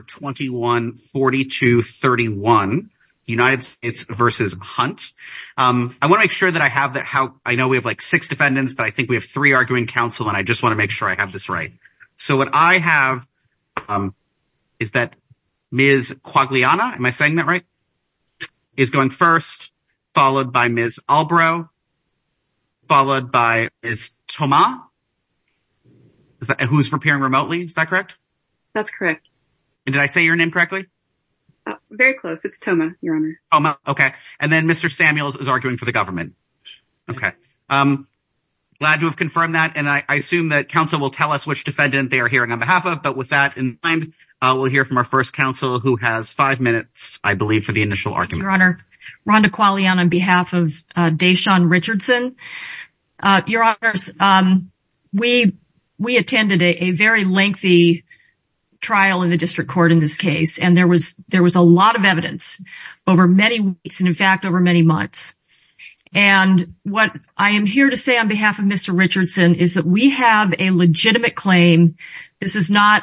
21-42-31, United States v. Hunt I want to make sure that I have that how I know we have like six defendants but I think we have three arguing counsel and I just want to make sure I have this right. So what I have is that Ms. Quagliana, am I saying that right, is going first followed by Ms. Albrow followed by Ms. Tomah who's appearing remotely, is that correct? That's correct. Did I say your name correctly? Very close, it's Tomah, your honor. Okay and then Mr. Samuels is arguing for the government. Okay, glad to have confirmed that and I assume that counsel will tell us which defendant they are hearing on behalf of but with that in mind we'll hear from our first counsel who has five minutes I believe for the initial argument. Your honor, Rhonda Quagliana on behalf of Dashaun Richardson. Your honors, we attended a very lengthy trial in the district court in this case and there was there was a lot of evidence over many weeks and in fact over many months and what I am here to say on behalf of Mr. Richardson is that we have a legitimate claim, this is not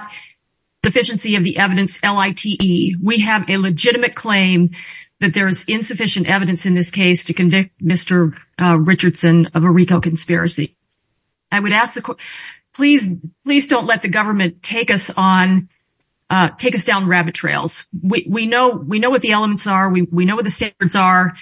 deficiency of the evidence LITE, we have a legitimate claim that there is insufficient evidence in this case to convict Mr. Richardson of a RICO conspiracy. I would ask the court, please don't let the government take us on, take us down rabbit trails. We know what the elements are, we know what the standards are,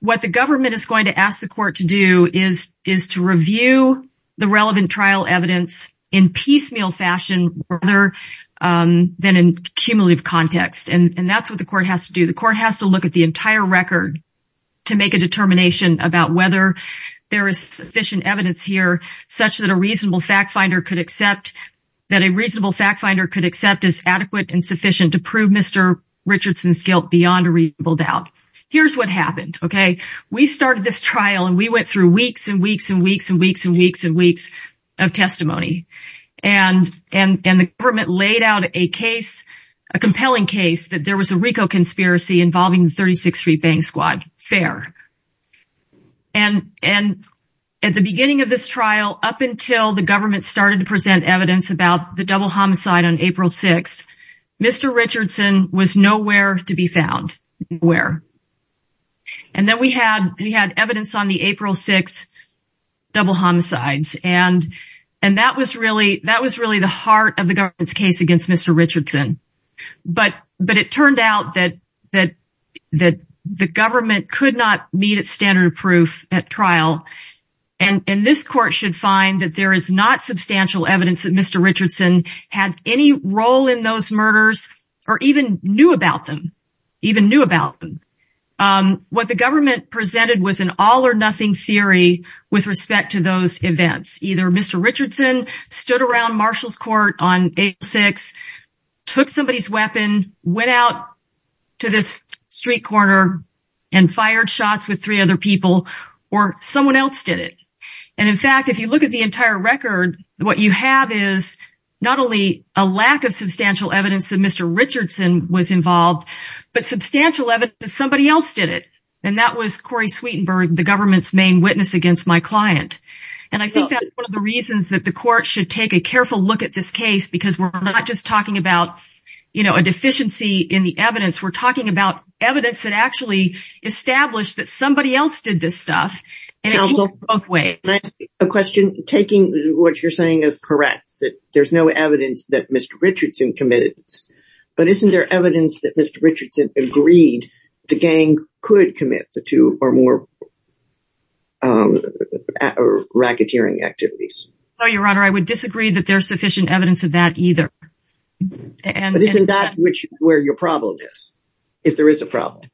what the government is going to ask the court to do is to review the relevant trial evidence in piecemeal fashion rather than in cumulative context and that's what the court has to do. The court has to look at the entire record to make a determination about whether there is sufficient evidence here such that a reasonable fact finder could accept that a reasonable fact finder could accept as adequate and sufficient to prove Mr. Richardson's guilt beyond a reasonable doubt. Here's what happened, okay, we started this trial and we went through weeks and weeks and weeks and weeks and weeks and weeks of testimony and the government laid out a compelling case that there was a RICO conspiracy involving the 36th Street Bang Squad. Fair. And at the beginning of this trial, up until the government started to present evidence about the double homicide on April 6th, Mr. Richardson was nowhere to be found. Nowhere. And then we had evidence on the April 6th double homicides and that was really the heart of the government's case against Mr. Richardson. But it turned out that the government could not meet its standard of proof at trial and this court should find that there is not substantial evidence that Mr. Richardson had any role in those murders or even knew about them, even knew about them. What the government presented was an all-or-nothing theory with respect to those events. Either Mr. Richardson stood around Marshall's Court on April 6th, took somebody's weapon, went out to this street corner and fired shots with three other people, or someone else did it. And in fact, if you look at the entire record, what you have is not only a lack of substantial evidence that Mr. Richardson was involved, but substantial evidence that somebody else did it. And that was the government's main witness against my client. And I think that's one of the reasons that the court should take a careful look at this case, because we're not just talking about, you know, a deficiency in the evidence. We're talking about evidence that actually established that somebody else did this stuff and it came from both ways. Counsel, can I ask you a question? Taking what you're saying as correct, that there's no evidence that Mr. Richardson committed this, but isn't there evidence that Mr. Richardson was involved in more racketeering activities? No, Your Honor, I would disagree that there's sufficient evidence of that either. But isn't that where your problem is, if there is a problem?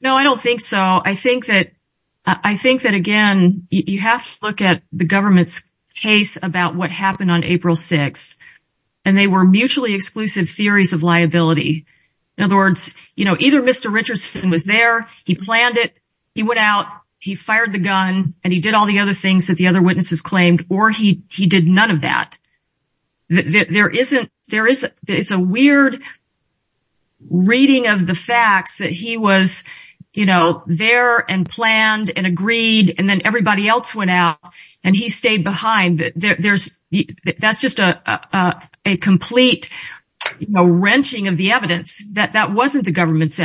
No, I don't think so. I think that, again, you have to look at the government's case about what happened on April 6th, and they were mutually exclusive theories of liability. In other words, you know, either Mr. Richardson was there, he planned it, he went out, he fired the gun, and he did all the other things that the other witnesses claimed, or he did none of that. There isn't, there is a weird reading of the facts that he was, you know, there and planned and agreed and then everybody else went out and he stayed behind. There's, that's just a complete, you know, wrenching of the evidence that that wasn't the government's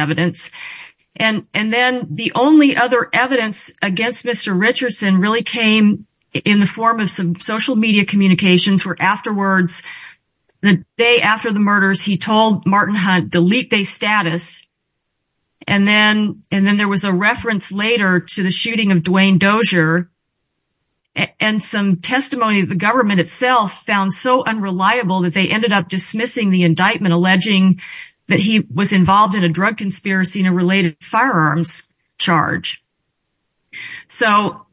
And then the only other evidence against Mr. Richardson really came in the form of some social media communications, where afterwards, the day after the murders, he told Martin Hunt, delete they status. And then there was a reference later to the shooting of Duane Dozier and some testimony that the government itself found so unreliable that they ended up dismissing the indictment, alleging that he was involved in a drug conspiracy and a related firearms charge. So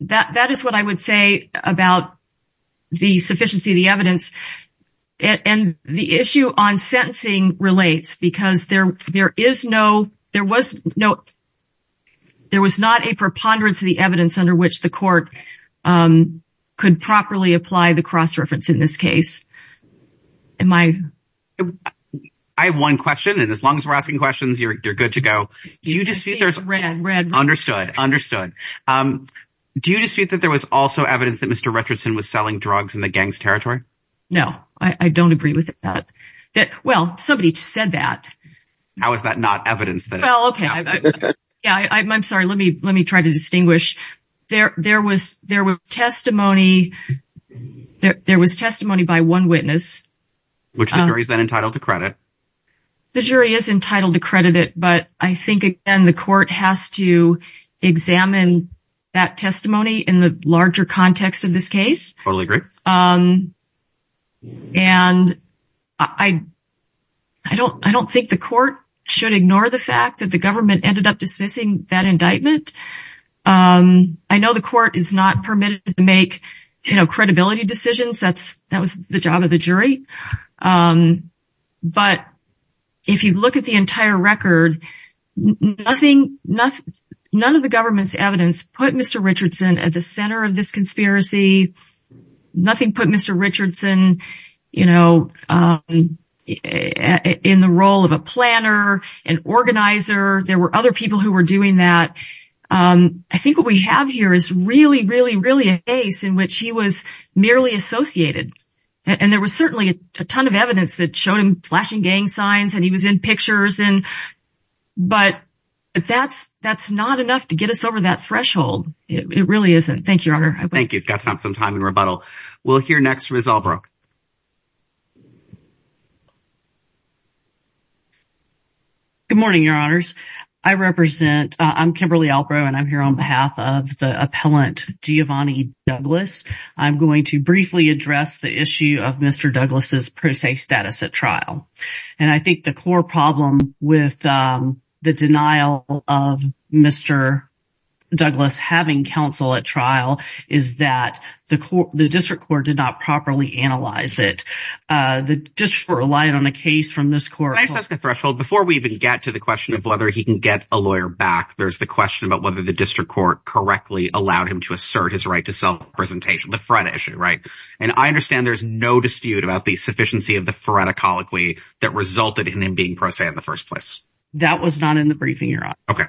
that is what I would say about the sufficiency of the evidence. And the issue on sentencing relates because there is no, there was no, there was not a preponderance of the evidence under which the court could properly apply the cross-reference in this case. Am I? I have one question. And as long as we're asking questions, you're good to go. You just understood, understood. Um, do you dispute that there was also evidence that Mr. Richardson was selling drugs in the gang's territory? No, I don't agree with that. Well, somebody said that. How is that not evidence? Well, okay. Yeah, I'm sorry. Let me, let me try to distinguish. There, there was, there were testimony, there was testimony by one witness. Which the jury is then entitled to credit. The jury is entitled to credit it, but I think again, the court has to examine that testimony in the larger context of this case. Totally agree. Um, and I, I don't, I don't think the court should ignore the fact that the government ended up dismissing that indictment. Um, I know the court is not permitted to make, you know, credibility decisions. That's, that was the job of the jury. Um, but if you look at the entire record, nothing, nothing, none of the government's evidence put Mr. Richardson at the center of this conspiracy. Nothing put Mr. Richardson, you know, um, in the role of a planner, an organizer. There were other people who were doing that. Um, I think what we have here is really, really, really a case in which he was merely associated. And there was certainly a ton of evidence that showed him flashing gang signs and he was in pictures and, but that's, that's not enough to get us over that threshold. It really isn't. Thank you, Your Honor. Got to have some time in rebuttal. We'll hear next from Ms. Albro. Good morning, Your Honors. I represent, uh, I'm Kimberly Albro and I'm here on behalf of the appellant Giovanni Douglas. I'm going to briefly address the issue of Mr. Douglas' pro se status at trial. And I think the core problem with, um, the denial of Mr. Douglas having counsel at trial is that the court, the district court did not properly analyze it. Uh, the district relied on a case from this court. Can I just ask a threshold before we even get to the question of whether he can get a lawyer back, there's the question about whether the district court correctly allowed him to assert his right to self-representation, the FREDA issue. Right. And I understand there's no dispute about the sufficiency of the FREDA colloquy that resulted in him being pro se in the first place. That was not in the briefing, Your Honor. Okay.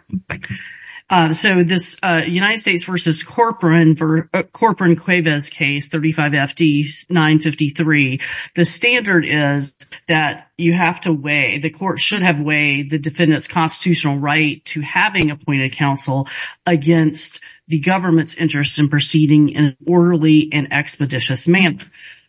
Uh, so this, uh, United States versus Corcoran for, uh, Corcoran-Cuevas case, 35 FD 953, the standard is that you have to weigh, the court should have weighed the defendant's constitutional right to having appointed counsel against the government's interest in proceeding in an orderly and expeditious manner.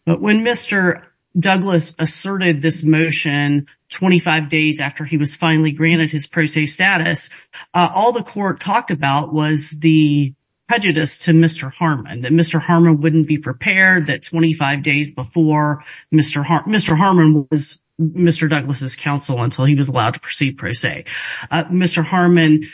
But when Mr. Douglas asserted this motion 25 days after he was finally granted his pro se status, uh, all the court talked about was the prejudice to Mr. Harmon, that Mr. Harmon wouldn't be prepared that 25 days before Mr. Har- Mr. Harmon was Mr. Douglas's counsel until he was allowed to proceed pro se. Mr. Harmon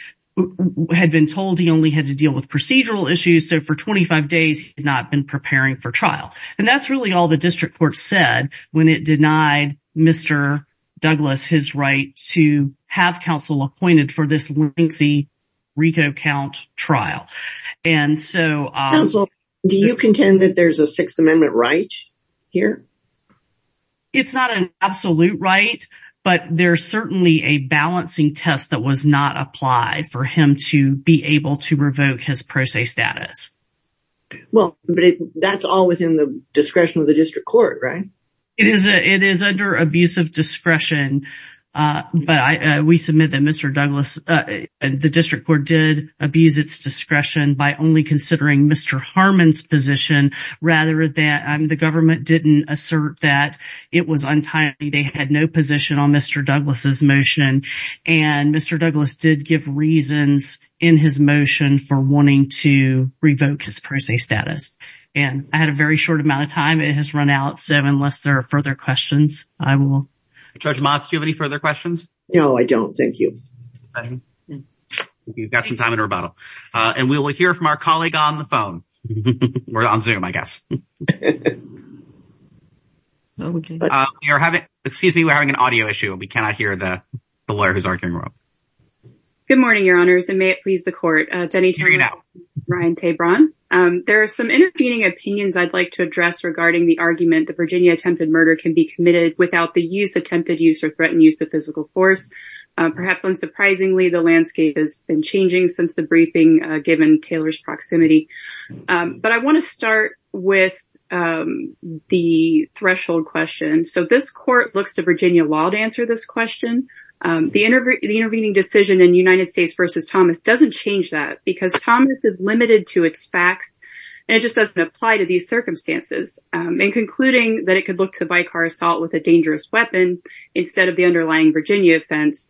had been told he only had to deal with procedural issues. So for 25 days, he had not been preparing for trial. And that's really all the district court said when it denied Mr. Douglas, his right to have counsel appointed for this lengthy RICO count trial. And so, uh- Counsel, do you contend that there's a sixth amendment right here? It's not an absolute right. But there's certainly a balancing test that was not applied for him to be able to revoke his pro se status. Well, but that's all within the discretion of the district court, right? It is a, it is under abusive discretion. Uh, but I, uh, we submit that Mr. Douglas, uh, the district court did abuse its discretion by only considering Mr. Harmon's position rather than, um, the government didn't assert that it was entirely, they had no position on Mr. Douglas's motion. And Mr. Douglas did give reasons in his motion for wanting to revoke his pro se status. And I had a very short amount of time. It has run out. So unless there are further questions, I will. Judge Motz, do you have any further questions? No, I don't. Thank you. You've got some time in rebuttal. Uh, and we will hear from our colleague on the phone or on zoom, I guess. Okay. Uh, you're having, excuse me. We're having an audio issue and we cannot hear the lawyer who's arguing. Good morning, your honors. And may it please the court, uh, Denny Taylor, Ryan Tebron. Um, there are some intervening opinions I'd like to address regarding the argument that Virginia attempted murder can be committed without the use, attempted use or threatened use of physical force. Uh, perhaps unsurprisingly, the landscape has been changing since the briefing, uh, given Taylor's proximity. Um, but I want to start with, um, the threshold question. So this court looks to Virginia law to answer this question. Um, the interv- the intervening decision in United States versus Thomas doesn't change that because Thomas is limited to its facts and it just doesn't apply to these circumstances. Um, and concluding that it could look to by car assault with a dangerous weapon instead of the underlying Virginia offense,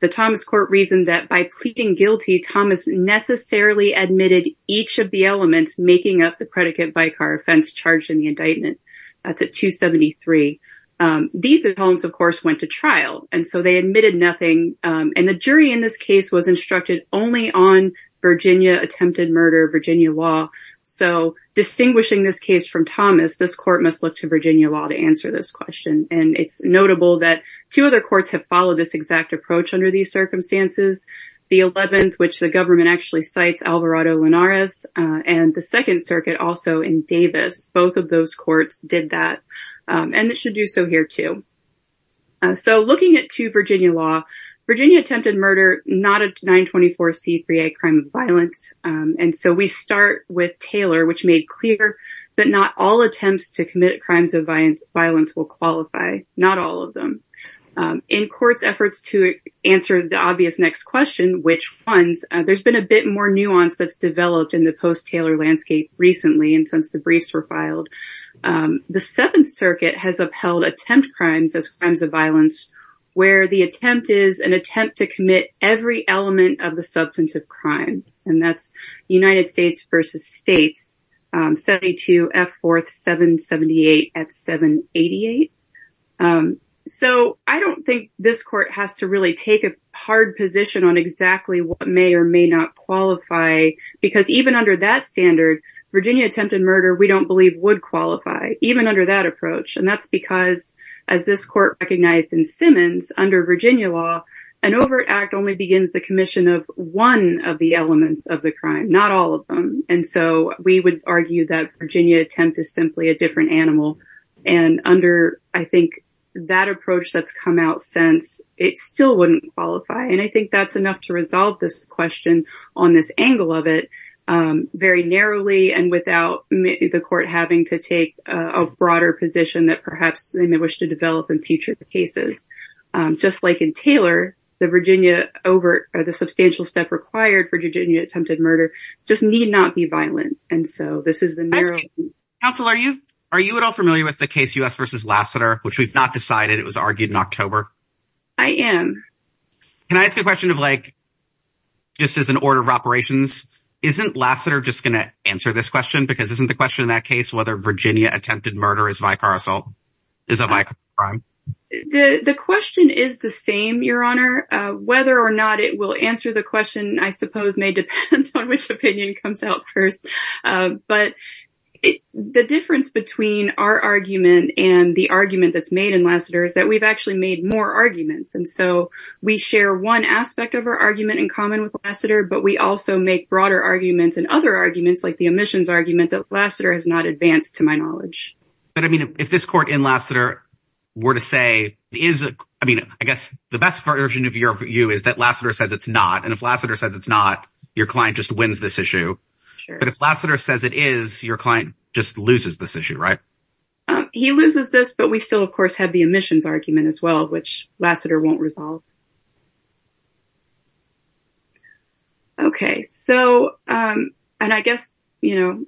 the Thomas court reasoned that by pleading guilty, Thomas necessarily admitted each of the elements making up the predicate by car offense charged in the indictment. That's at 273. Um, these of course went to trial and so they admitted nothing. Um, and the jury in this case was instructed only on Virginia attempted murder, Virginia law. So distinguishing this case from Thomas, this court must look to Virginia law to answer this question. And it's notable that two other courts have followed this exact approach under these circumstances. The 11th, which the government actually cites Alvarado Linares, uh, and the second circuit also in Davis, both of those courts did that, um, and it should do so here too, uh, so looking at two Virginia law, Virginia attempted murder, not a 924C3A crime of violence. Um, and so we start with Taylor, which made clear that not all attempts to commit crimes of violence will qualify, not all of them. Um, in court's efforts to answer the obvious next question, which ones, uh, there's been a bit more nuance that's developed in the post Taylor landscape recently, and since the briefs were filed, um, the seventh circuit has upheld attempt crimes as crimes of violence, where the attempt is an attempt to commit every element of the substance of crime. And that's United States versus States, um, 72 F 4th, 778 at 788. Um, so I don't think this court has to really take a hard position on exactly what may or may not qualify because even under that standard, Virginia attempted murder, we don't believe would qualify even under that approach. And that's because as this court recognized in Simmons under Virginia law, an overt act only begins the commission of one of the elements of the crime, not all of them, and so we would argue that Virginia attempt is simply a different animal and under, I think that approach that's come out since it still wouldn't qualify. And I think that's enough to resolve this question on this angle of it, um, very narrowly and without the court having to take a broader position that perhaps they may wish to develop in future cases. Um, just like in Taylor, the Virginia overt or the substantial step required for Virginia attempted murder just need not be violent. And so this is the narrow- Counsel, are you, are you at all familiar with the case U.S. versus Lassiter, which we've not decided it was argued in October? I am. Can I ask a question of like, just as an order of operations, isn't Lassiter just going to answer this question? Because isn't the question in that case, whether Virginia attempted murder is vicar assault, is a vicar assault crime? The, the question is the same, your honor, uh, whether or not it will answer the question, I suppose may depend on which opinion comes out first. Um, but the difference between our argument and the argument that's made in Lassiter is that we've actually made more arguments. And so we share one aspect of our argument in common with Lassiter, but we also make broader arguments and other arguments like the omissions argument that Lassiter has not advanced to my knowledge. But I mean, if this court in Lassiter were to say, is, I mean, I guess the best version of your view is that Lassiter says it's not, and if Lassiter says it's not, your client just wins this issue. But if Lassiter says it is, your client just loses this issue, right? Um, he loses this, but we still of course have the omissions argument as well, which Lassiter won't resolve. Okay. So, um, and I guess, you know,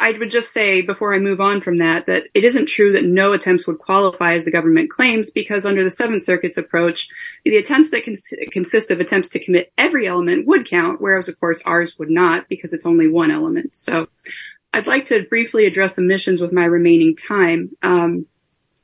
I would just say before I move on from that, that it isn't true that no attempts would qualify as the government claims, because under the seventh circuit's approach, the attempts that can consist of attempts to commit every element would count, whereas of course ours would not because it's only one element. So I'd like to briefly address omissions with my remaining time. Um,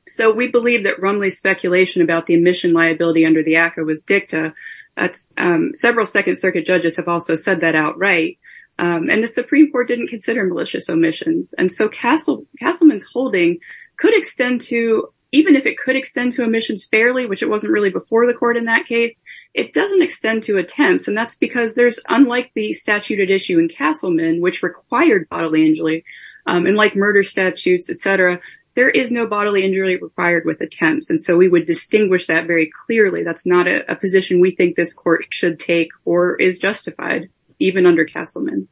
so we believe that Rumley's speculation about the omission liability under the ACCA was dicta. That's, um, several second circuit judges have also said that outright. Um, and the Supreme court didn't consider malicious omissions. And so Castleman's holding could extend to, even if it could extend to omissions fairly, which it wasn't really before the court in that case, it doesn't extend to attempts and that's because there's, unlike the statute at issue in Castleman, which required bodily injury, um, and like murder statutes, et cetera, there is no bodily injury required with attempts. And so we would distinguish that very clearly. That's not a position we think this court should take or is justified even under Castleman.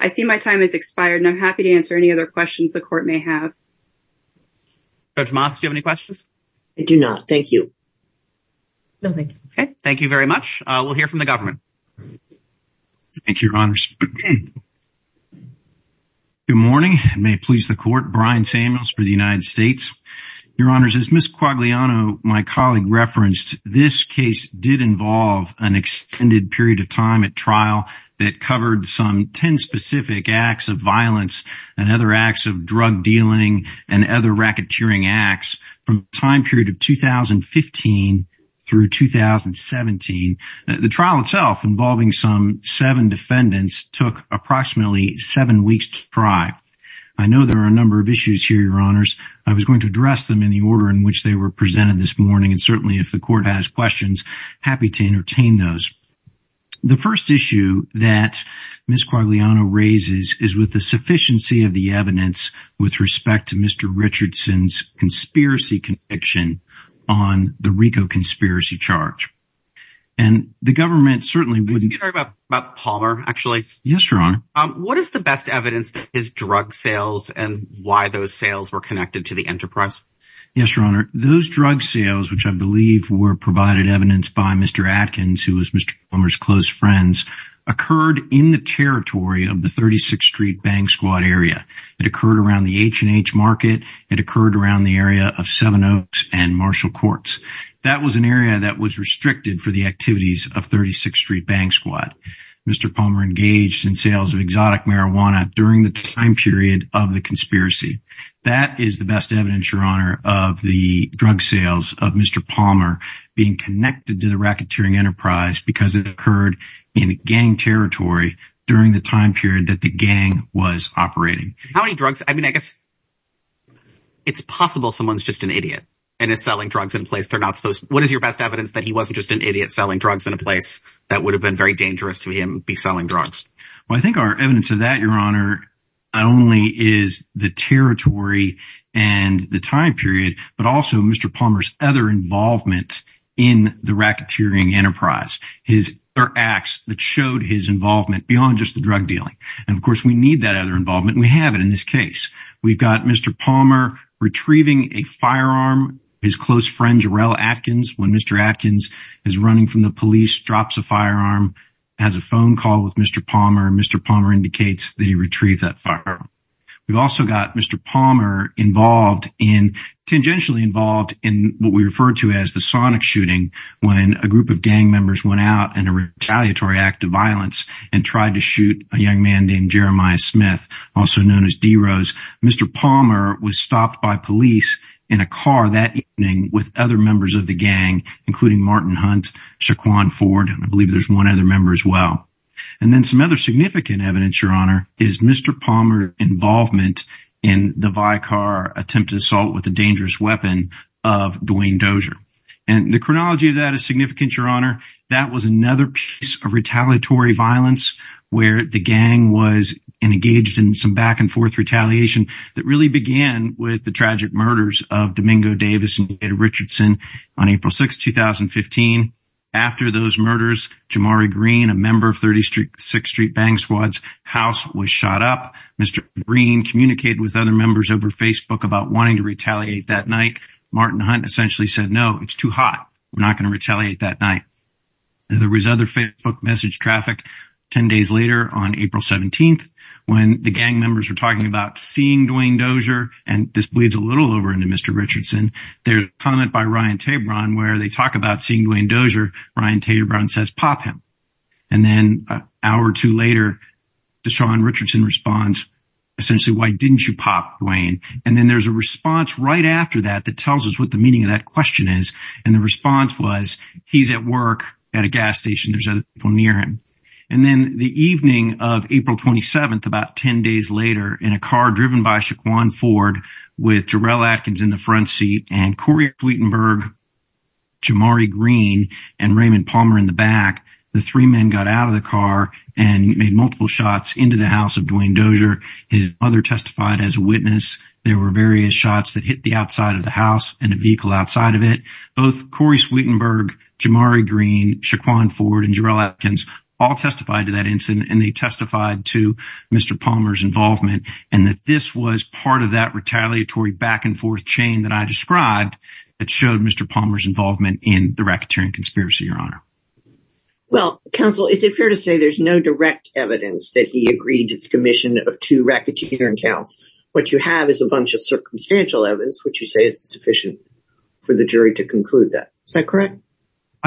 I see my time has expired and I'm happy to answer any other questions the court may have. Judge Motz, do you have any questions? I do not. Thank you. No, thank you. Okay. Thank you very much. Uh, we'll hear from the government. Thank you, your honors. Good morning. May it please the court. Brian Samuels for the United States. Your honors, as Ms. Quagliano, my colleague referenced, this case did involve an extended period of time at trial that covered some 10 specific acts of violence and other acts of drug dealing and other racketeering acts from time period of 2015 through 2017, the trial itself involving some seven defendants took approximately seven weeks to try. I know there are a number of issues here, your honors. I was going to address them in the order in which they were presented this morning, and certainly if the court has questions, happy to entertain those. The first issue that Ms. Quagliano raises is with the sufficiency of the evidence with respect to Mr. Palmer's drug sales and why those sales were connected to the enterprise. Yes, your honor. Those drug sales, which I believe were provided evidence by Mr. Atkins, who was Mr. Palmer's close friends, occurred in the territory of the 36th street bank squad area that occurred around the H and H market. It occurred around the area of Seven Oaks and Marshall courts. That was an area that was restricted for the activities of 36th street bank squad. Mr. Palmer engaged in sales of exotic marijuana during the time period of the conspiracy. That is the best evidence, your honor, of the drug sales of Mr. Palmer being connected to the racketeering enterprise because it occurred in gang territory during the time period that the gang was operating. How many drugs? I mean, I guess it's possible someone's just an idiot and is selling drugs in a place they're not supposed to. What is your best evidence that he wasn't just an idiot selling drugs in a place that would have been very dangerous to him be selling drugs? Well, I think our evidence of that, your honor, not only is the territory and the time period, but also Mr. Palmer's other involvement in the racketeering enterprise, his or acts that showed his involvement beyond just the drug dealing. And of course we need that other involvement. We have it in this case. We've got Mr. Palmer retrieving a firearm, his close friend Jarell Atkins. When Mr. Atkins is running from the police, drops a firearm, has a phone call with Mr. Palmer. Mr. Palmer indicates that he retrieved that firearm. We've also got Mr. Palmer involved in, tangentially involved in what we refer to as the sonic shooting when a group of gang members went out in a retaliatory act of violence and tried to Mr. Palmer was stopped by police in a car that evening with other members of the gang, including Martin Hunt, Shaquan Ford. And I believe there's one other member as well. And then some other significant evidence, your honor, is Mr. Palmer involvement in the Vicar attempt to assault with a dangerous weapon of Dwayne Dozier. And the chronology of that is significant, your honor. That was another piece of retaliatory violence where the gang was engaged in some back and forth retaliation that really began with the tragic murders of Domingo Davis and David Richardson on April 6th, 2015. After those murders, Jamari Green, a member of 36th Street Bang Squad's house was shot up. Mr. Green communicated with other members over Facebook about wanting to retaliate that night. Martin Hunt essentially said, no, it's too hot. We're not going to retaliate that night. There was other Facebook message traffic 10 days later on April 17th when the gang members were talking about seeing Dwayne Dozier. And this bleeds a little over into Mr. Richardson. There's a comment by Ryan Tabron where they talk about seeing Dwayne Dozier. Ryan Tabron says, pop him. And then an hour or two later, Deshaun Richardson responds, essentially, why didn't you pop Dwayne? And then there's a response right after that that tells us what the meaning of that question is. And the response was, he's at work at a gas station. There's other people near him. And then the evening of April 27th, about 10 days later, in a car driven by Shaquan Ford with Jarrell Atkins in the front seat and Corey Sweetenberg, Jamari Green and Raymond Palmer in the back, the three men got out of the car and made multiple shots into the house of Dwayne Dozier. His mother testified as a witness. There were various shots that hit the outside of the house and a vehicle outside of it. Both Corey Sweetenberg, Jamari Green, Shaquan Ford and Jarrell Atkins all testified to that incident and they testified to Mr. Palmer's involvement and that this was part of that retaliatory back and forth chain that I described that showed Mr. Palmer's involvement in the racketeering conspiracy, Your Honor. Well, counsel, is it fair to say there's no direct evidence that he agreed to the commission of two racketeering counts? What you have is a bunch of circumstantial evidence, which you say is sufficient for the jury to conclude that. Is that correct?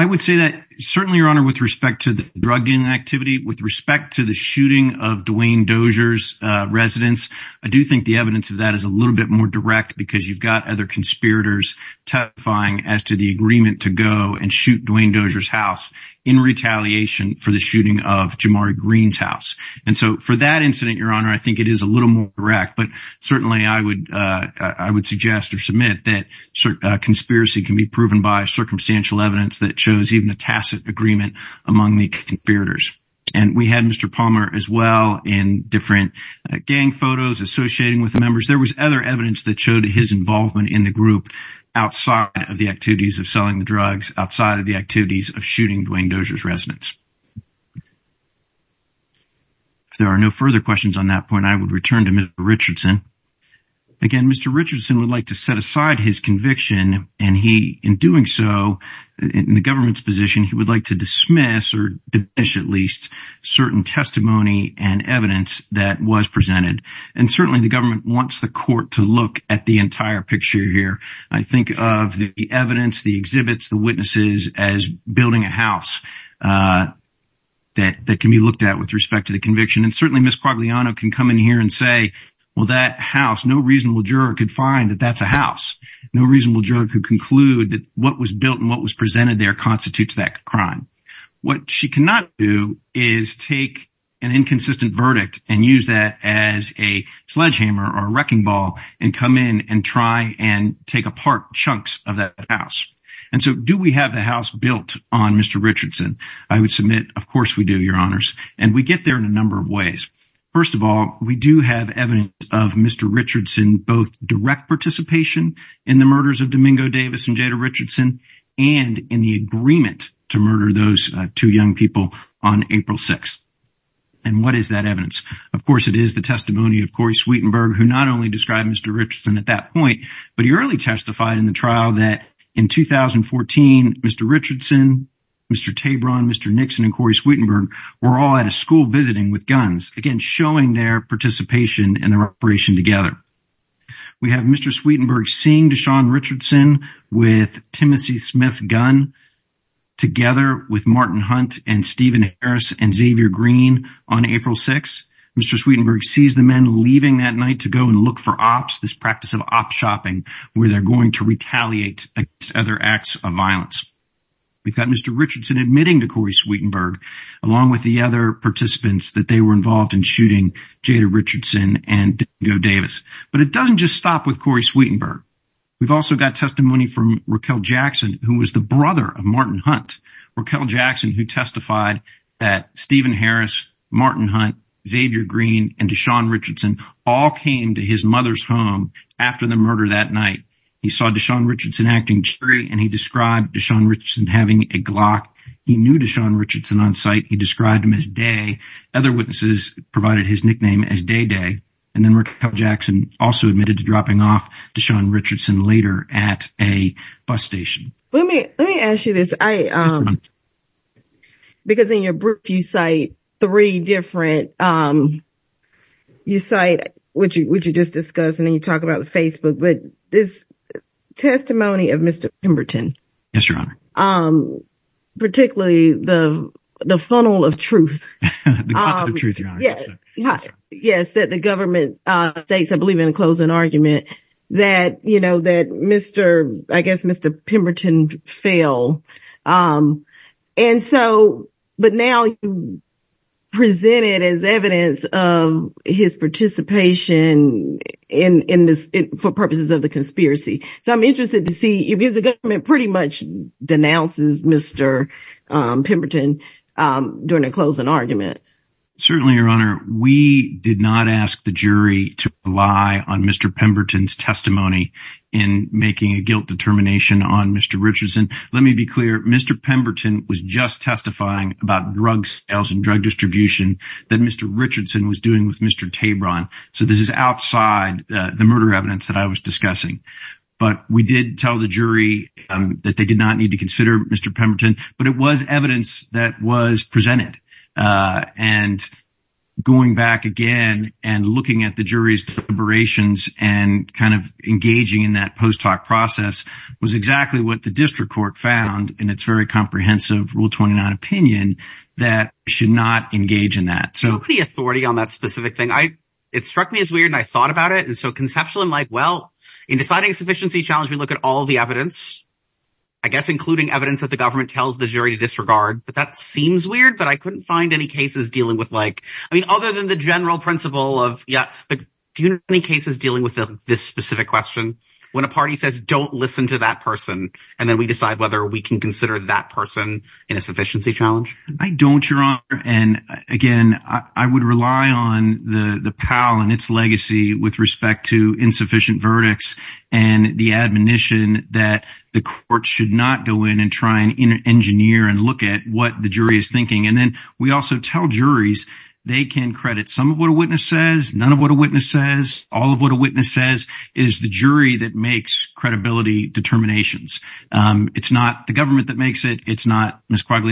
I would say that certainly, Your Honor, with respect to the drugging activity, with respect to the shooting of Dwayne Dozier's residence, I do think the evidence of that is a little bit more direct because you've got other conspirators testifying as to the agreement to go and shoot Dwayne Dozier's house in retaliation for the shooting of Jamari Green's house. And so for that incident, Your Honor, I think it is a little more direct, but certainly I would I would suggest or submit that conspiracy can be proven by circumstantial evidence that shows even a tacit agreement among the conspirators. And we had Mr. Palmer as well in different gang photos associating with the members. There was other evidence that showed his involvement in the group outside of the activities of selling the drugs, outside of the activities of shooting Dwayne Dozier's residence. If there are no further questions on that point, I would return to Mr. Richardson. Again, Mr. Richardson would like to set aside his conviction and he in doing so in the government's position, he would like to dismiss or at least certain testimony and evidence that was presented. And certainly the government wants the court to look at the entire picture here. I think of the evidence, the exhibits, the witnesses as building a house that can be looked at with respect to the conviction. And certainly Miss Quagliano can come in here and say, well, that house, no reasonable juror could find that that's a house, no reasonable juror could conclude that what was built and what was presented there constitutes that crime. What she cannot do is take an inconsistent verdict and use that as a sledgehammer or wrecking ball and come in and try and take apart chunks of that house. And so do we have the house built on Mr. Richardson? I would submit, of course we do, Your Honors. And we get there in a number of ways. First of all, we do have evidence of Mr. Richardson, both direct participation in the murders of Domingo Davis and Jada Richardson and in the agreement to murder those two young people on April 6th. And what is that evidence? Of course, it is the testimony of Corey Sweetenberg, who not only described Mr. Richardson at that point, but he early testified in the trial that in 2014, Mr. Sweetenberg and Corey Sweetenberg were all at a school visiting with guns, again, showing their participation in the reparation together. We have Mr. Sweetenberg seeing Deshaun Richardson with Timothy Smith's gun together with Martin Hunt and Stephen Harris and Xavier Green on April 6th. Mr. Sweetenberg sees the men leaving that night to go and look for ops, this practice of op-shopping, where they're going to retaliate against other acts of violence. We've got Mr. Richardson admitting to Corey Sweetenberg, along with the other participants that they were involved in shooting Jada Richardson and Domingo Davis. But it doesn't just stop with Corey Sweetenberg. We've also got testimony from Raquel Jackson, who was the brother of Martin Hunt, Raquel Jackson, who testified that Stephen Harris, Martin Hunt, Xavier Green and Deshaun Richardson all came to his mother's home after the murder that night. He saw Deshaun Richardson acting district and he described Deshaun Richardson having a Glock. He knew Deshaun Richardson on site. He described him as Day. Other witnesses provided his nickname as Day Day. And then Raquel Jackson also admitted to dropping off Deshaun Richardson later at a bus station. Let me, let me ask you this. I, um, because in your brief, you cite three different, um, you cite what you, what you just discussed and then you talk about the Facebook. But this testimony of Mr. Pemberton, um, particularly the, the funnel of truth, um, yes, that the government, uh, states, I believe in a closing argument that, you know, that Mr., I guess, Mr. Pemberton fell. Um, and so, but now you present it as evidence of his participation in, in for purposes of the conspiracy. So I'm interested to see if the government pretty much denounces Mr. Um, Pemberton, um, during a closing argument. Certainly your honor, we did not ask the jury to rely on Mr. Pemberton's testimony in making a guilt determination on Mr. Richardson. Let me be clear. Mr. Pemberton was just testifying about drug sales and drug distribution that Mr. Richardson was doing with Mr. Tabron. So this is outside the murder evidence that I was discussing, but we did tell the jury, um, that they did not need to consider Mr. Pemberton, but it was evidence that was presented, uh, and going back again and looking at the jury's deliberations and kind of engaging in that post-talk process was exactly what the district court found. And it's very comprehensive rule 29 opinion that should not engage in that. So. Pretty authority on that specific thing. I, it struck me as weird and I thought about it. And so conceptually, I'm like, well, in deciding a sufficiency challenge, we look at all the evidence, I guess, including evidence that the government tells the jury to disregard, but that seems weird, but I couldn't find any cases dealing with like, I mean, other than the general principle of yeah. But do you have any cases dealing with this specific question when a party says, don't listen to that person. And then we decide whether we can consider that person in a sufficiency challenge. I don't your honor. And again, I would rely on the, the Powell and its legacy with respect to insufficient verdicts and the admonition that the court should not go in and try and engineer and look at what the jury is thinking. And then we also tell juries. They can credit some of what a witness says, none of what a witness says, all of what a witness says is the jury that makes credibility determinations. Um, it's not the government that makes it. It's not Ms. Court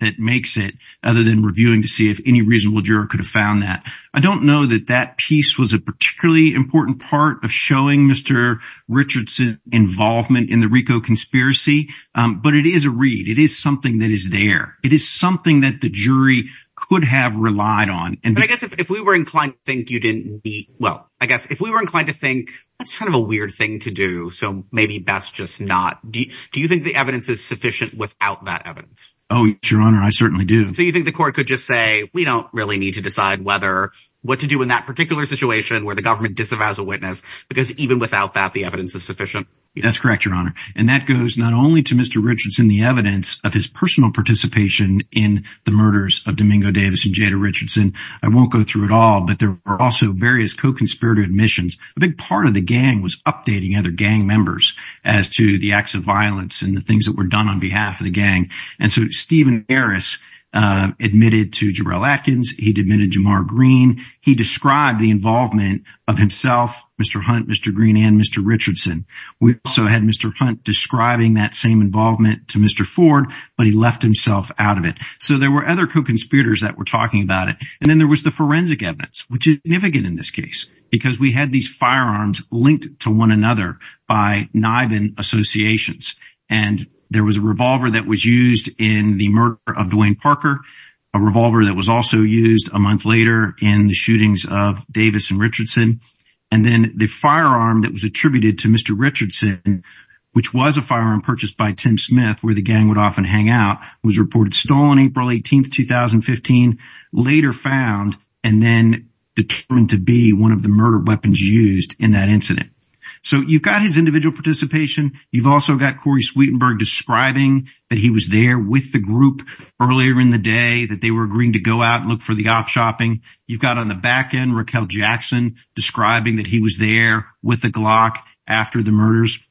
that makes it other than reviewing to see if any reasonable juror could have found that. I don't know that that piece was a particularly important part of showing Mr. Richardson involvement in the Rico conspiracy. Um, but it is a read. It is something that is there. It is something that the jury could have relied on. And I guess if we were inclined to think you didn't be well, I guess if we were inclined to think that's kind of a weird thing to do. So maybe best just not do you think the evidence is sufficient without that evidence? Oh, your honor. I certainly do. So you think the court could just say, we don't really need to decide whether what to do in that particular situation where the government disavows a witness, because even without that, the evidence is sufficient. That's correct, your honor. And that goes not only to Mr. Richardson, the evidence of his personal participation in the murders of Domingo Davis and Jada Richardson, I won't go through it all, but there are also various co-conspirator admissions. A big part of the gang was updating other gang members as to the acts of violence and the things that were done on behalf of the gang. And so Stephen Harris admitted to Jarell Atkins. He admitted Jamar Green. He described the involvement of himself, Mr. Hunt, Mr. Green and Mr. Richardson. We also had Mr. Hunt describing that same involvement to Mr. Ford, but he left himself out of it. So there were other co-conspirators that were talking about it. And then there was the forensic evidence, which is significant in this case, because we had these firearms linked to one another by NIBIN associations. And there was a revolver that was used in the murder of Dwayne Parker, a revolver that was also used a month later in the shootings of Davis and Richardson. And then the firearm that was attributed to Mr. Richardson, which was a firearm purchased by Tim Smith, where the gang would often hang out, was reported stolen April 18th, 2015, later found, and then determined to be one of the murder weapons used in that incident. So you've got his individual participation. You've also got Corey Sweetenberg describing that he was there with the group earlier in the day that they were agreeing to go out and look for the op shopping. You've got on the back end, Raquel Jackson describing that he was there with the Glock after the murders.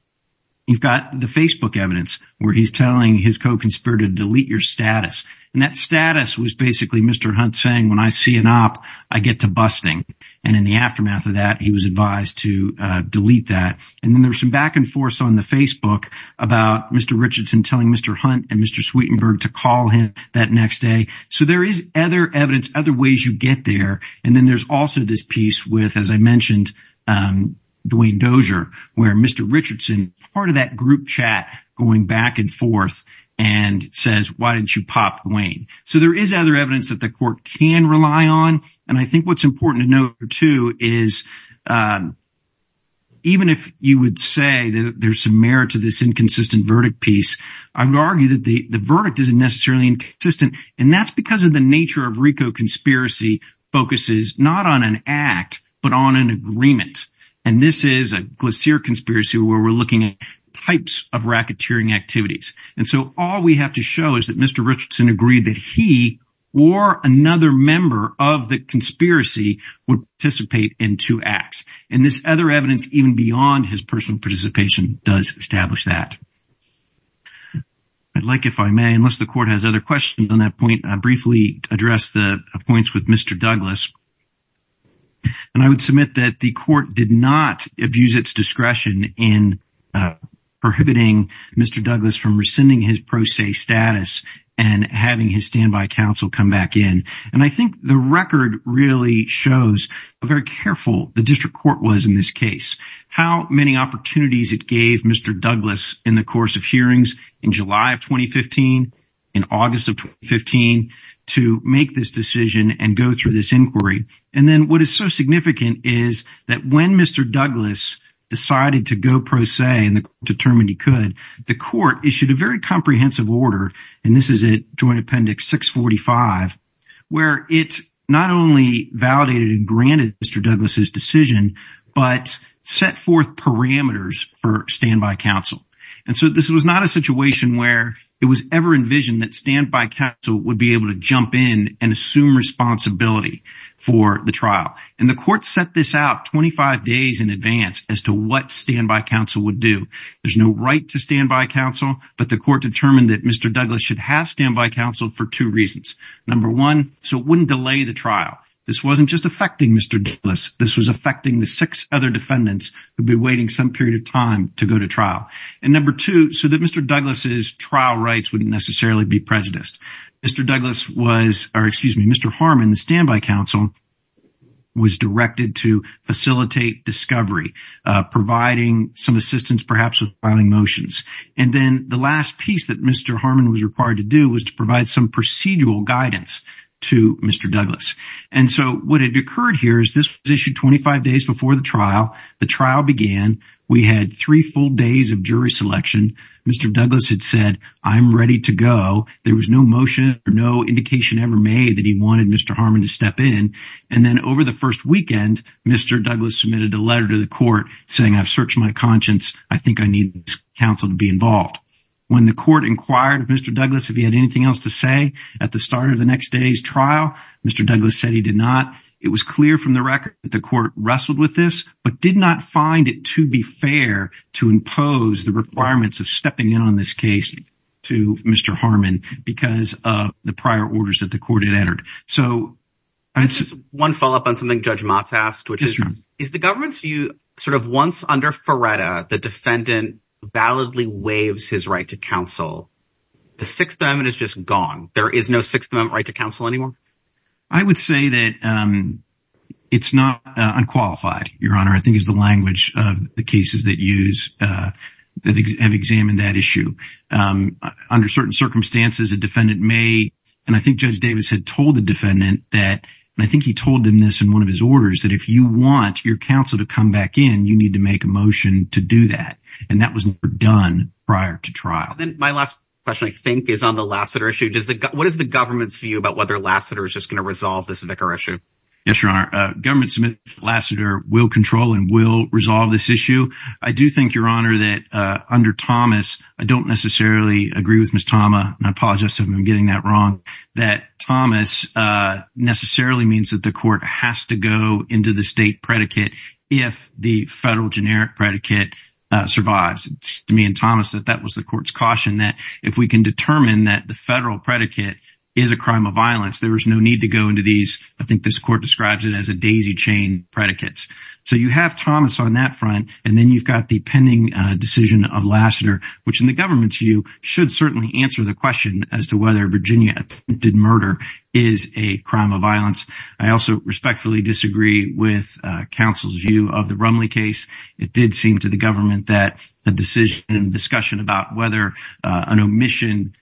You've got the Facebook evidence where he's telling his co-conspirator, delete your status, and that status was basically Mr. Hunt saying, when I see an op, I get to busting. And in the aftermath of that, he was advised to delete that. And then there's some back and forth on the Facebook about Mr. Richardson telling Mr. Hunt and Mr. Sweetenberg to call him that next day. So there is other evidence, other ways you get there. And then there's also this piece with, as I mentioned, Dwayne Dozier, where Mr. Richardson, part of that group chat, going back and forth and says, why didn't you pop Dwayne? So there is other evidence that the court can rely on. And I think what's important to note, too, is even if you would say that there's some merit to this inconsistent verdict piece, I would argue that the verdict isn't necessarily inconsistent. And that's because of the nature of RICO conspiracy focuses, not on an act, but on an agreement. And this is a Glacier conspiracy where we're looking at types of racketeering activities. And so all we have to show is that Mr. Richardson agreed that he or another member of the conspiracy would participate in two acts. And this other evidence, even beyond his personal participation, does establish that. I'd like, if I may, unless the court has other questions on that point, I'd briefly address the points with Mr. Douglas. And I would submit that the court did not abuse its discretion in prohibiting Mr. Douglas from rescinding his pro se status and having his standby counsel come back in. And I think the record really shows how very careful the district court was in this case, how many opportunities it gave Mr. Douglas in the course of hearings in July of 2015, in August of 2015, to make this decision and go through this inquiry. And then what is so significant is that when Mr. Douglas decided to go pro se and determined he could, the court issued a very comprehensive order. And this is it, Joint Appendix 645, where it not only validated and granted Mr. Douglas's decision, but set forth parameters for standby counsel. And so this was not a situation where it was ever envisioned that standby counsel would be able to jump in and assume responsibility for the trial. And the court set this out 25 days in advance as to what standby counsel would do. There's no right to standby counsel, but the court determined that Mr. Douglas should have standby counsel for two reasons. Number one, so it wouldn't delay the trial. This wasn't just affecting Mr. Douglas. This was affecting the six other defendants who'd be waiting some period of time to go to trial. And number two, so that Mr. Douglas's trial rights wouldn't necessarily be prejudiced. Mr. Douglas was or excuse me, Mr. Harmon, the standby counsel. Was directed to facilitate discovery, providing some assistance perhaps with filing motions. And then the last piece that Mr. Harmon was required to do was to provide some procedural guidance to Mr. Douglas. And so what had occurred here is this was issued 25 days before the trial. The trial began. We had three full days of jury selection. Mr. Douglas had said, I'm ready to go. There was no motion or no indication ever made that he wanted Mr. Harmon to step in. And then over the first weekend, Mr. Douglas submitted a letter to the court saying, I've searched my conscience. I think I need counsel to be involved. When the court inquired of Mr. Douglas, if he had anything else to say at the start of the next day's trial, Mr. Douglas said he did not. It was clear from the record that the court wrestled with this, but did not find it to be fair to impose the requirements of stepping in on this case to Mr. Harmon because of the prior orders that the court had entered. So this is one follow up on something Judge Motz asked, which is, is the government's view sort of once under Faretta, the defendant validly waives his right to counsel. The Sixth Amendment is just gone. There is no Sixth Amendment right to counsel anymore. I would say that it's not unqualified, Your Honor. I think is the language of the cases that use that have examined that issue. Under certain circumstances, a defendant may, and I think Judge Davis had told the defendant that, and I think he told him this in one of his orders, that if you want your counsel to come back in, you need to make a motion to do that. And that was done prior to trial. My last question, I think, is on the Lassiter issue. What is the government's view about whether Lassiter is just going to resolve this vicar issue? Yes, Your Honor, government submits Lassiter will control and will resolve this issue. I do think, Your Honor, that under Thomas, I don't necessarily agree with Ms. Tama, and I apologize if I'm getting that wrong, that Thomas necessarily means that the court has to go into the state predicate if the federal generic predicate survives. To me and Thomas, that that was the court's caution that if we can determine that the federal predicate is a crime of violence, there is no need to go into these. I think this court describes it as a daisy chain predicates. So you have Thomas on that front and then you've got the pending decision of Lassiter, which in the government's view should certainly answer the question as to whether Virginia attempted murder is a crime of violence. I also respectfully disagree with counsel's view of the Rumley case. It did seem to the government that the decision and discussion about whether an omission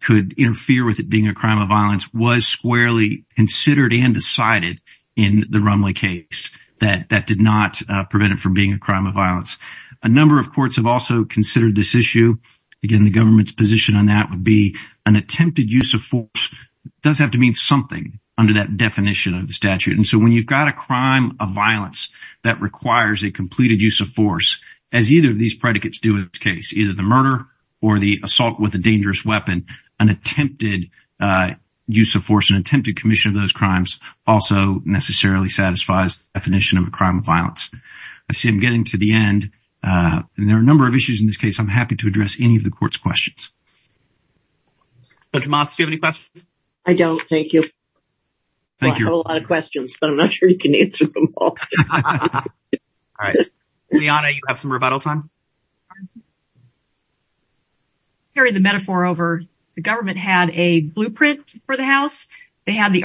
could interfere with it being a crime of violence was squarely considered and decided in the Rumley case that that did not prevent it from being a crime of violence. A number of courts have also considered this issue. Again, the government's position on that would be an attempted use of force does have to mean something under that definition of the statute. And so when you've got a crime of violence that requires a completed use of force, as either of these predicates do in this case, either the murder or the assault with a dangerous weapon, an attempted use of force and attempted commission of those crimes also necessarily satisfies the definition of a crime of violence. I see I'm getting to the end and there are a number of issues in this case. I'm happy to address any of the court's questions. Judge Motz, do you have any questions? I don't. Thank you. Thank you. I have a lot of questions, but I'm not sure you can answer them all. All right, Liana, you have some rebuttal time. Carrying the metaphor over, the government had a blueprint for the house, they had the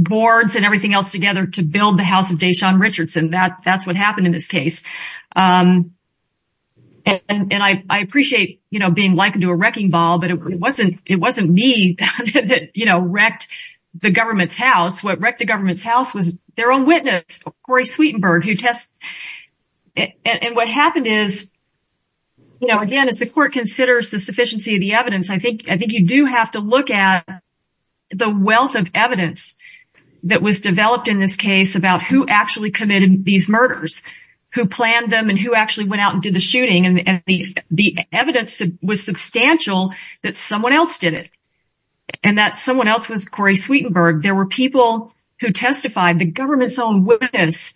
boards and everything else together to build the house of Deshaun Richardson. That's what happened in this case. And I appreciate being likened to a wrecking ball, but it wasn't me that wrecked the government's house. What wrecked the government's house was their own witness, Corey Sweetenberg. And what happened is, again, as the court considers the sufficiency of the wealth of evidence that was developed in this case about who actually committed these murders, who planned them and who actually went out and did the shooting. And the evidence was substantial that someone else did it and that someone else was Corey Sweetenberg. There were people who testified, the government's own witness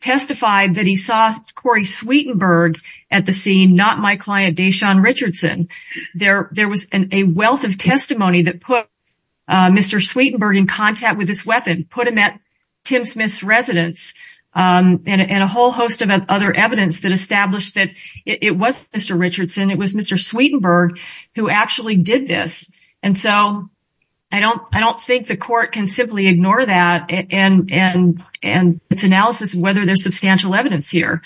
testified that he saw Corey Sweetenberg at the scene, not my client, Deshaun Sweetenberg in contact with this weapon, put him at Tim Smith's residence and a whole host of other evidence that established that it was Mr. Richardson, it was Mr. Sweetenberg who actually did this. And so I don't think the court can simply ignore that and its analysis of whether there's substantial evidence here.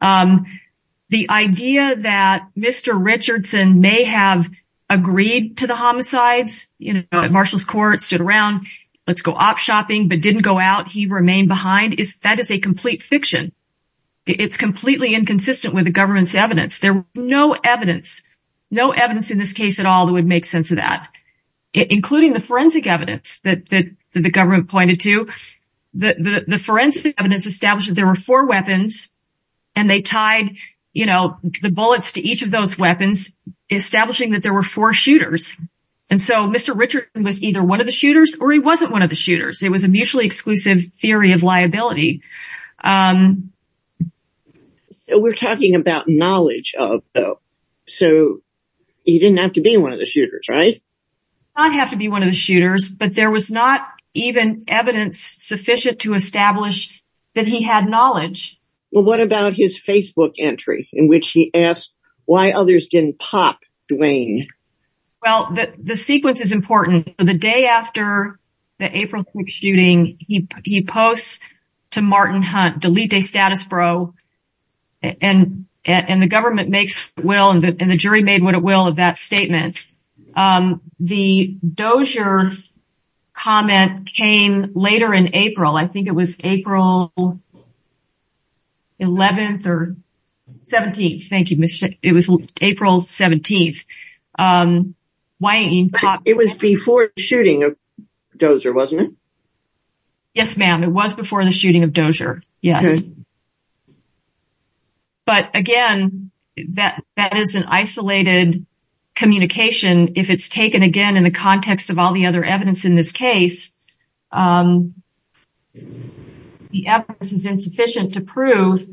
The idea that Mr. Richardson may have agreed to the homicides, you know, at Marshall's Court, stood around, let's go op shopping, but didn't go out. He remained behind. That is a complete fiction. It's completely inconsistent with the government's evidence. There was no evidence, no evidence in this case at all that would make sense of that, including the forensic evidence that the government pointed to. The forensic evidence established that there were four weapons and they tied the bullets to each of those weapons, establishing that there were four shooters. And so Mr. Richardson was either one of the shooters or he wasn't one of the shooters. It was a mutually exclusive theory of liability. We're talking about knowledge of, though. So he didn't have to be one of the shooters, right? Not have to be one of the shooters, but there was not even evidence sufficient to establish that he had knowledge. Well, what about his Facebook entry in which he asked why others didn't pop Dwayne? Well, the sequence is important. The day after the April shooting, he posts to Martin Hunt, Delete De Status Pro. And the government makes will and the jury made what it will of that statement. The Dozier comment came later in April. I think it was April 11th or 17th. Thank you. It was April 17th. It was before the shooting of Dozier, wasn't it? Yes, ma'am. It was before the shooting of Dozier. Yes. But again, that is an isolated communication. If it's taken, again, in the context of all the other evidence in this case, the evidence is insufficient to prove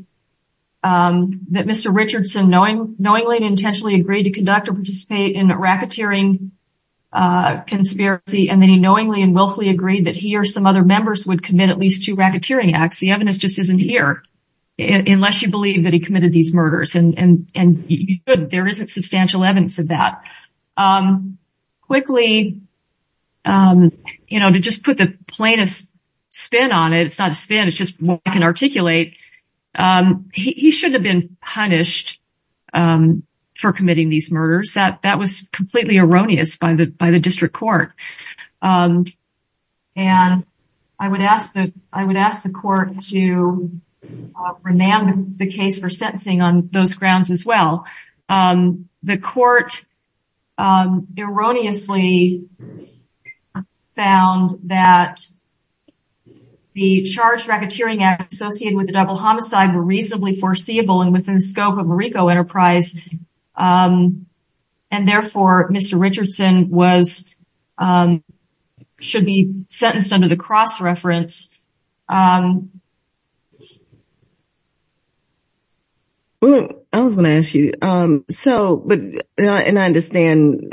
that Mr. Richardson knowingly and intentionally agreed to conduct or participate in a racketeering conspiracy. And then he knowingly and willfully agreed that he or some other members would commit at least two racketeering acts. The evidence just isn't here, unless you believe that he committed these murders. And there isn't substantial evidence of that. Quickly, you know, to just put the plainest spin on it, it's not a spin, it's just what I can articulate, he shouldn't have been punished for committing these murders. That was completely erroneous by the district court. And I would ask the court to rename the case for sentencing on those grounds as well. The court erroneously found that the charged racketeering act associated with the double homicide were reasonably foreseeable and within the scope of a RICO enterprise. And therefore, Mr. Richardson should be sentenced under the cross-reference. I was going to ask you, so, and I understand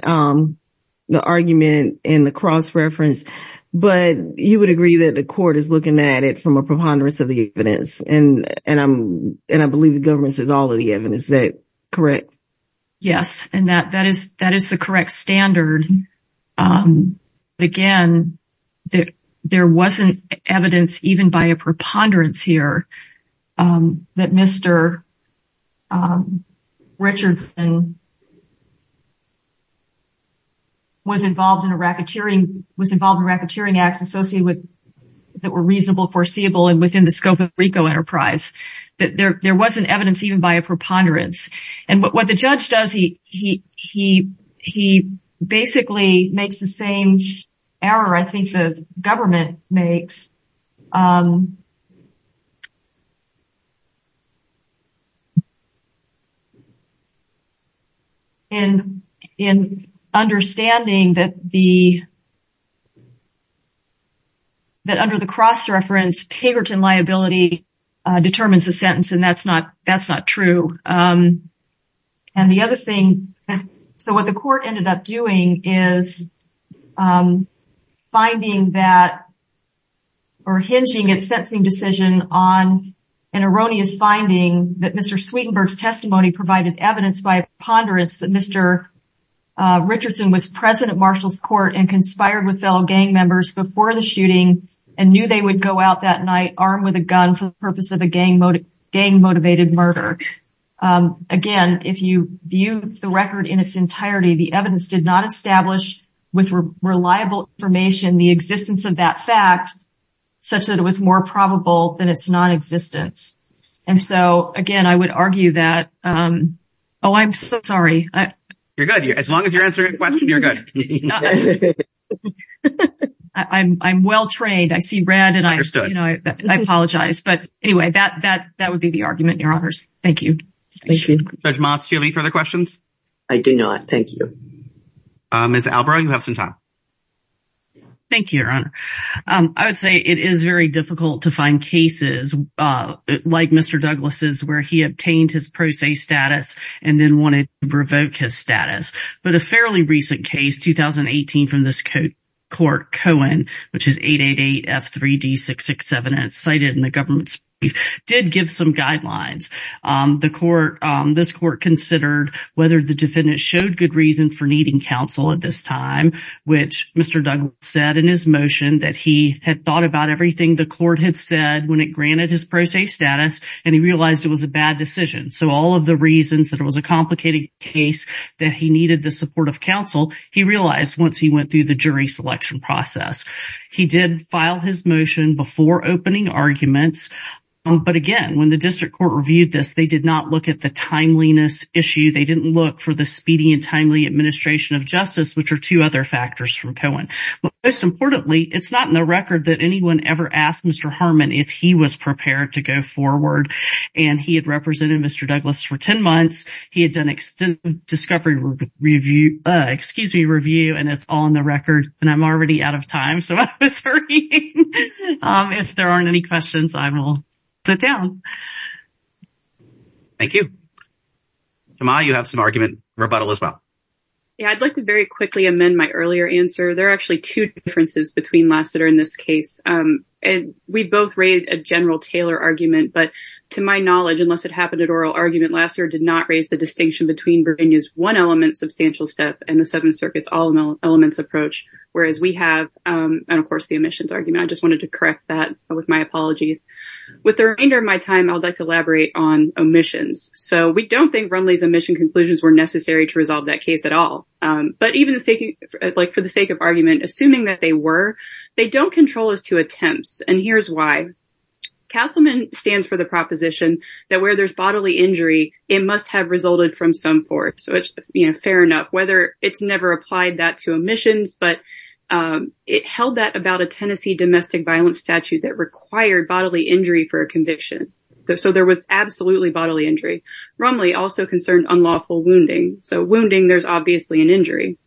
the argument in the cross-reference, but you would agree that the court is looking at it from a preponderance of the evidence, and I believe the government says all of the evidence, is that correct? Yes, and that is the correct standard. But again, there wasn't evidence even by a preponderance here that Mr. Richardson was involved in racketeering, was involved in racketeering acts associated with, that were reasonable, foreseeable, and within the scope of a RICO enterprise. But there wasn't evidence even by a preponderance. And what the judge does, he basically makes the same error I think the government makes in understanding that under the cross-reference, Pagerton liability determines the sentence. And that's not true. And the other thing, so what the court ended up doing is finding that, or hinging its sentencing decision on an erroneous finding that Mr. Sweetenberg's testimony provided evidence by a preponderance that Mr. Richardson was present at Marshall's court and conspired with fellow gang members before the shooting and knew they would go out that night armed with a gun for the purpose of a gang-motivated murder. Again, if you view the record in its entirety, the evidence did not establish with reliable information, the existence of that fact, such that it was more probable than its non-existence. And so again, I would argue that, oh, I'm so sorry. You're good. As long as you're answering questions, you're good. I'm well-trained. I see red and I, you know, I apologize, but anyway, that, that, that would be the argument, your honors. Thank you. Judge Motz, do you have any further questions? I do not. Thank you. Ms. Albrow, you have some time. Thank you, your honor. I would say it is very difficult to find cases like Mr. Douglas's, where he obtained his pro se status and then wanted to revoke his status, but a fairly recent case, 2018 from this court Cohen, which is 888-F3-D667 and it's cited in the government's brief, did give some guidelines. The court, this court considered whether the defendant showed good reason for needing counsel at this time, which Mr. Douglas said in his motion that he had thought about everything the court had said when it granted his pro se status and he realized it was a bad decision. So all of the reasons that it was a complicated case that he needed the support of counsel, he realized once he went through the jury selection process. He did file his motion before opening arguments. But again, when the district court reviewed this, they did not look at the timeliness issue. They didn't look for the speedy and timely administration of justice, which are two other factors from Cohen, but most importantly, it's not in the record that anyone ever asked Mr. Harmon, if he was prepared to go forward. And he had represented Mr. Douglas for 10 months. He had done extensive discovery review, excuse me, review, and it's all in the record and I'm already out of time. So if there aren't any questions, I will sit down. Thank you. Jemma, you have some argument. Roboto as well. Yeah, I'd like to very quickly amend my earlier answer. There are actually two differences between Lassiter in this case. And we both raised a general Taylor argument, but to my knowledge, unless it happened at oral argument, Lassiter did not raise the distinction between Bourbigny's one element substantial step and the Seventh Circuit's all and of course the omissions argument. I just wanted to correct that with my apologies. With the remainder of my time, I'd like to elaborate on omissions. So we don't think Rumley's omission conclusions were necessary to resolve that case at all. But even for the sake of argument, assuming that they were, they don't control as to attempts. And here's why. Castleman stands for the proposition that where there's bodily injury, it must have resulted from some force. So it's fair enough, whether it's never applied that to omissions, but it was held that about a Tennessee domestic violence statute that required bodily injury for a conviction. So there was absolutely bodily injury. Rumley also concerned unlawful wounding. So wounding, there's obviously an injury.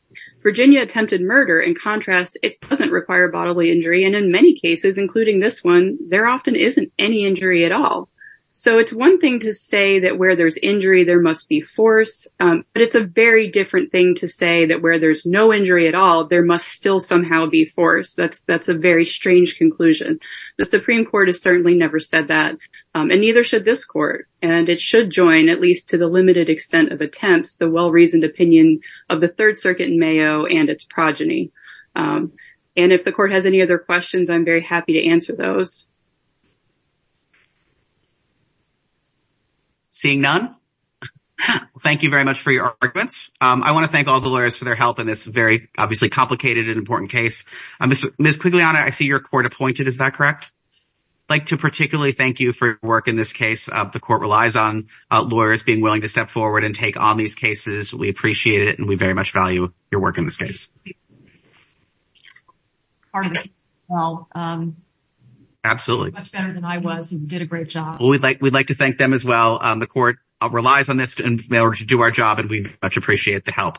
Virginia attempted murder. In contrast, it doesn't require bodily injury. And in many cases, including this one, there often isn't any injury at all. So it's one thing to say that where there's injury, there must be force. But it's a very different thing to say that where there's no injury at all, there must still somehow be force. That's a very strange conclusion. The Supreme Court has certainly never said that, and neither should this court. And it should join, at least to the limited extent of attempts, the well-reasoned opinion of the Third Circuit in Mayo and its progeny. And if the court has any other questions, I'm very happy to answer those. Seeing none. Thank you very much for your arguments. I want to thank all the lawyers for their help in this very, obviously complicated and important case. Ms. Quigley-Anna, I see you're court-appointed. Is that correct? I'd like to particularly thank you for your work in this case. The court relies on lawyers being willing to step forward and take on these cases. We appreciate it. And we very much value your work in this case. Pardon me. Well, much better than I was. You did a great job. Well, we'd like to thank them as well. The court relies on this in order to do our job, and we much appreciate the help.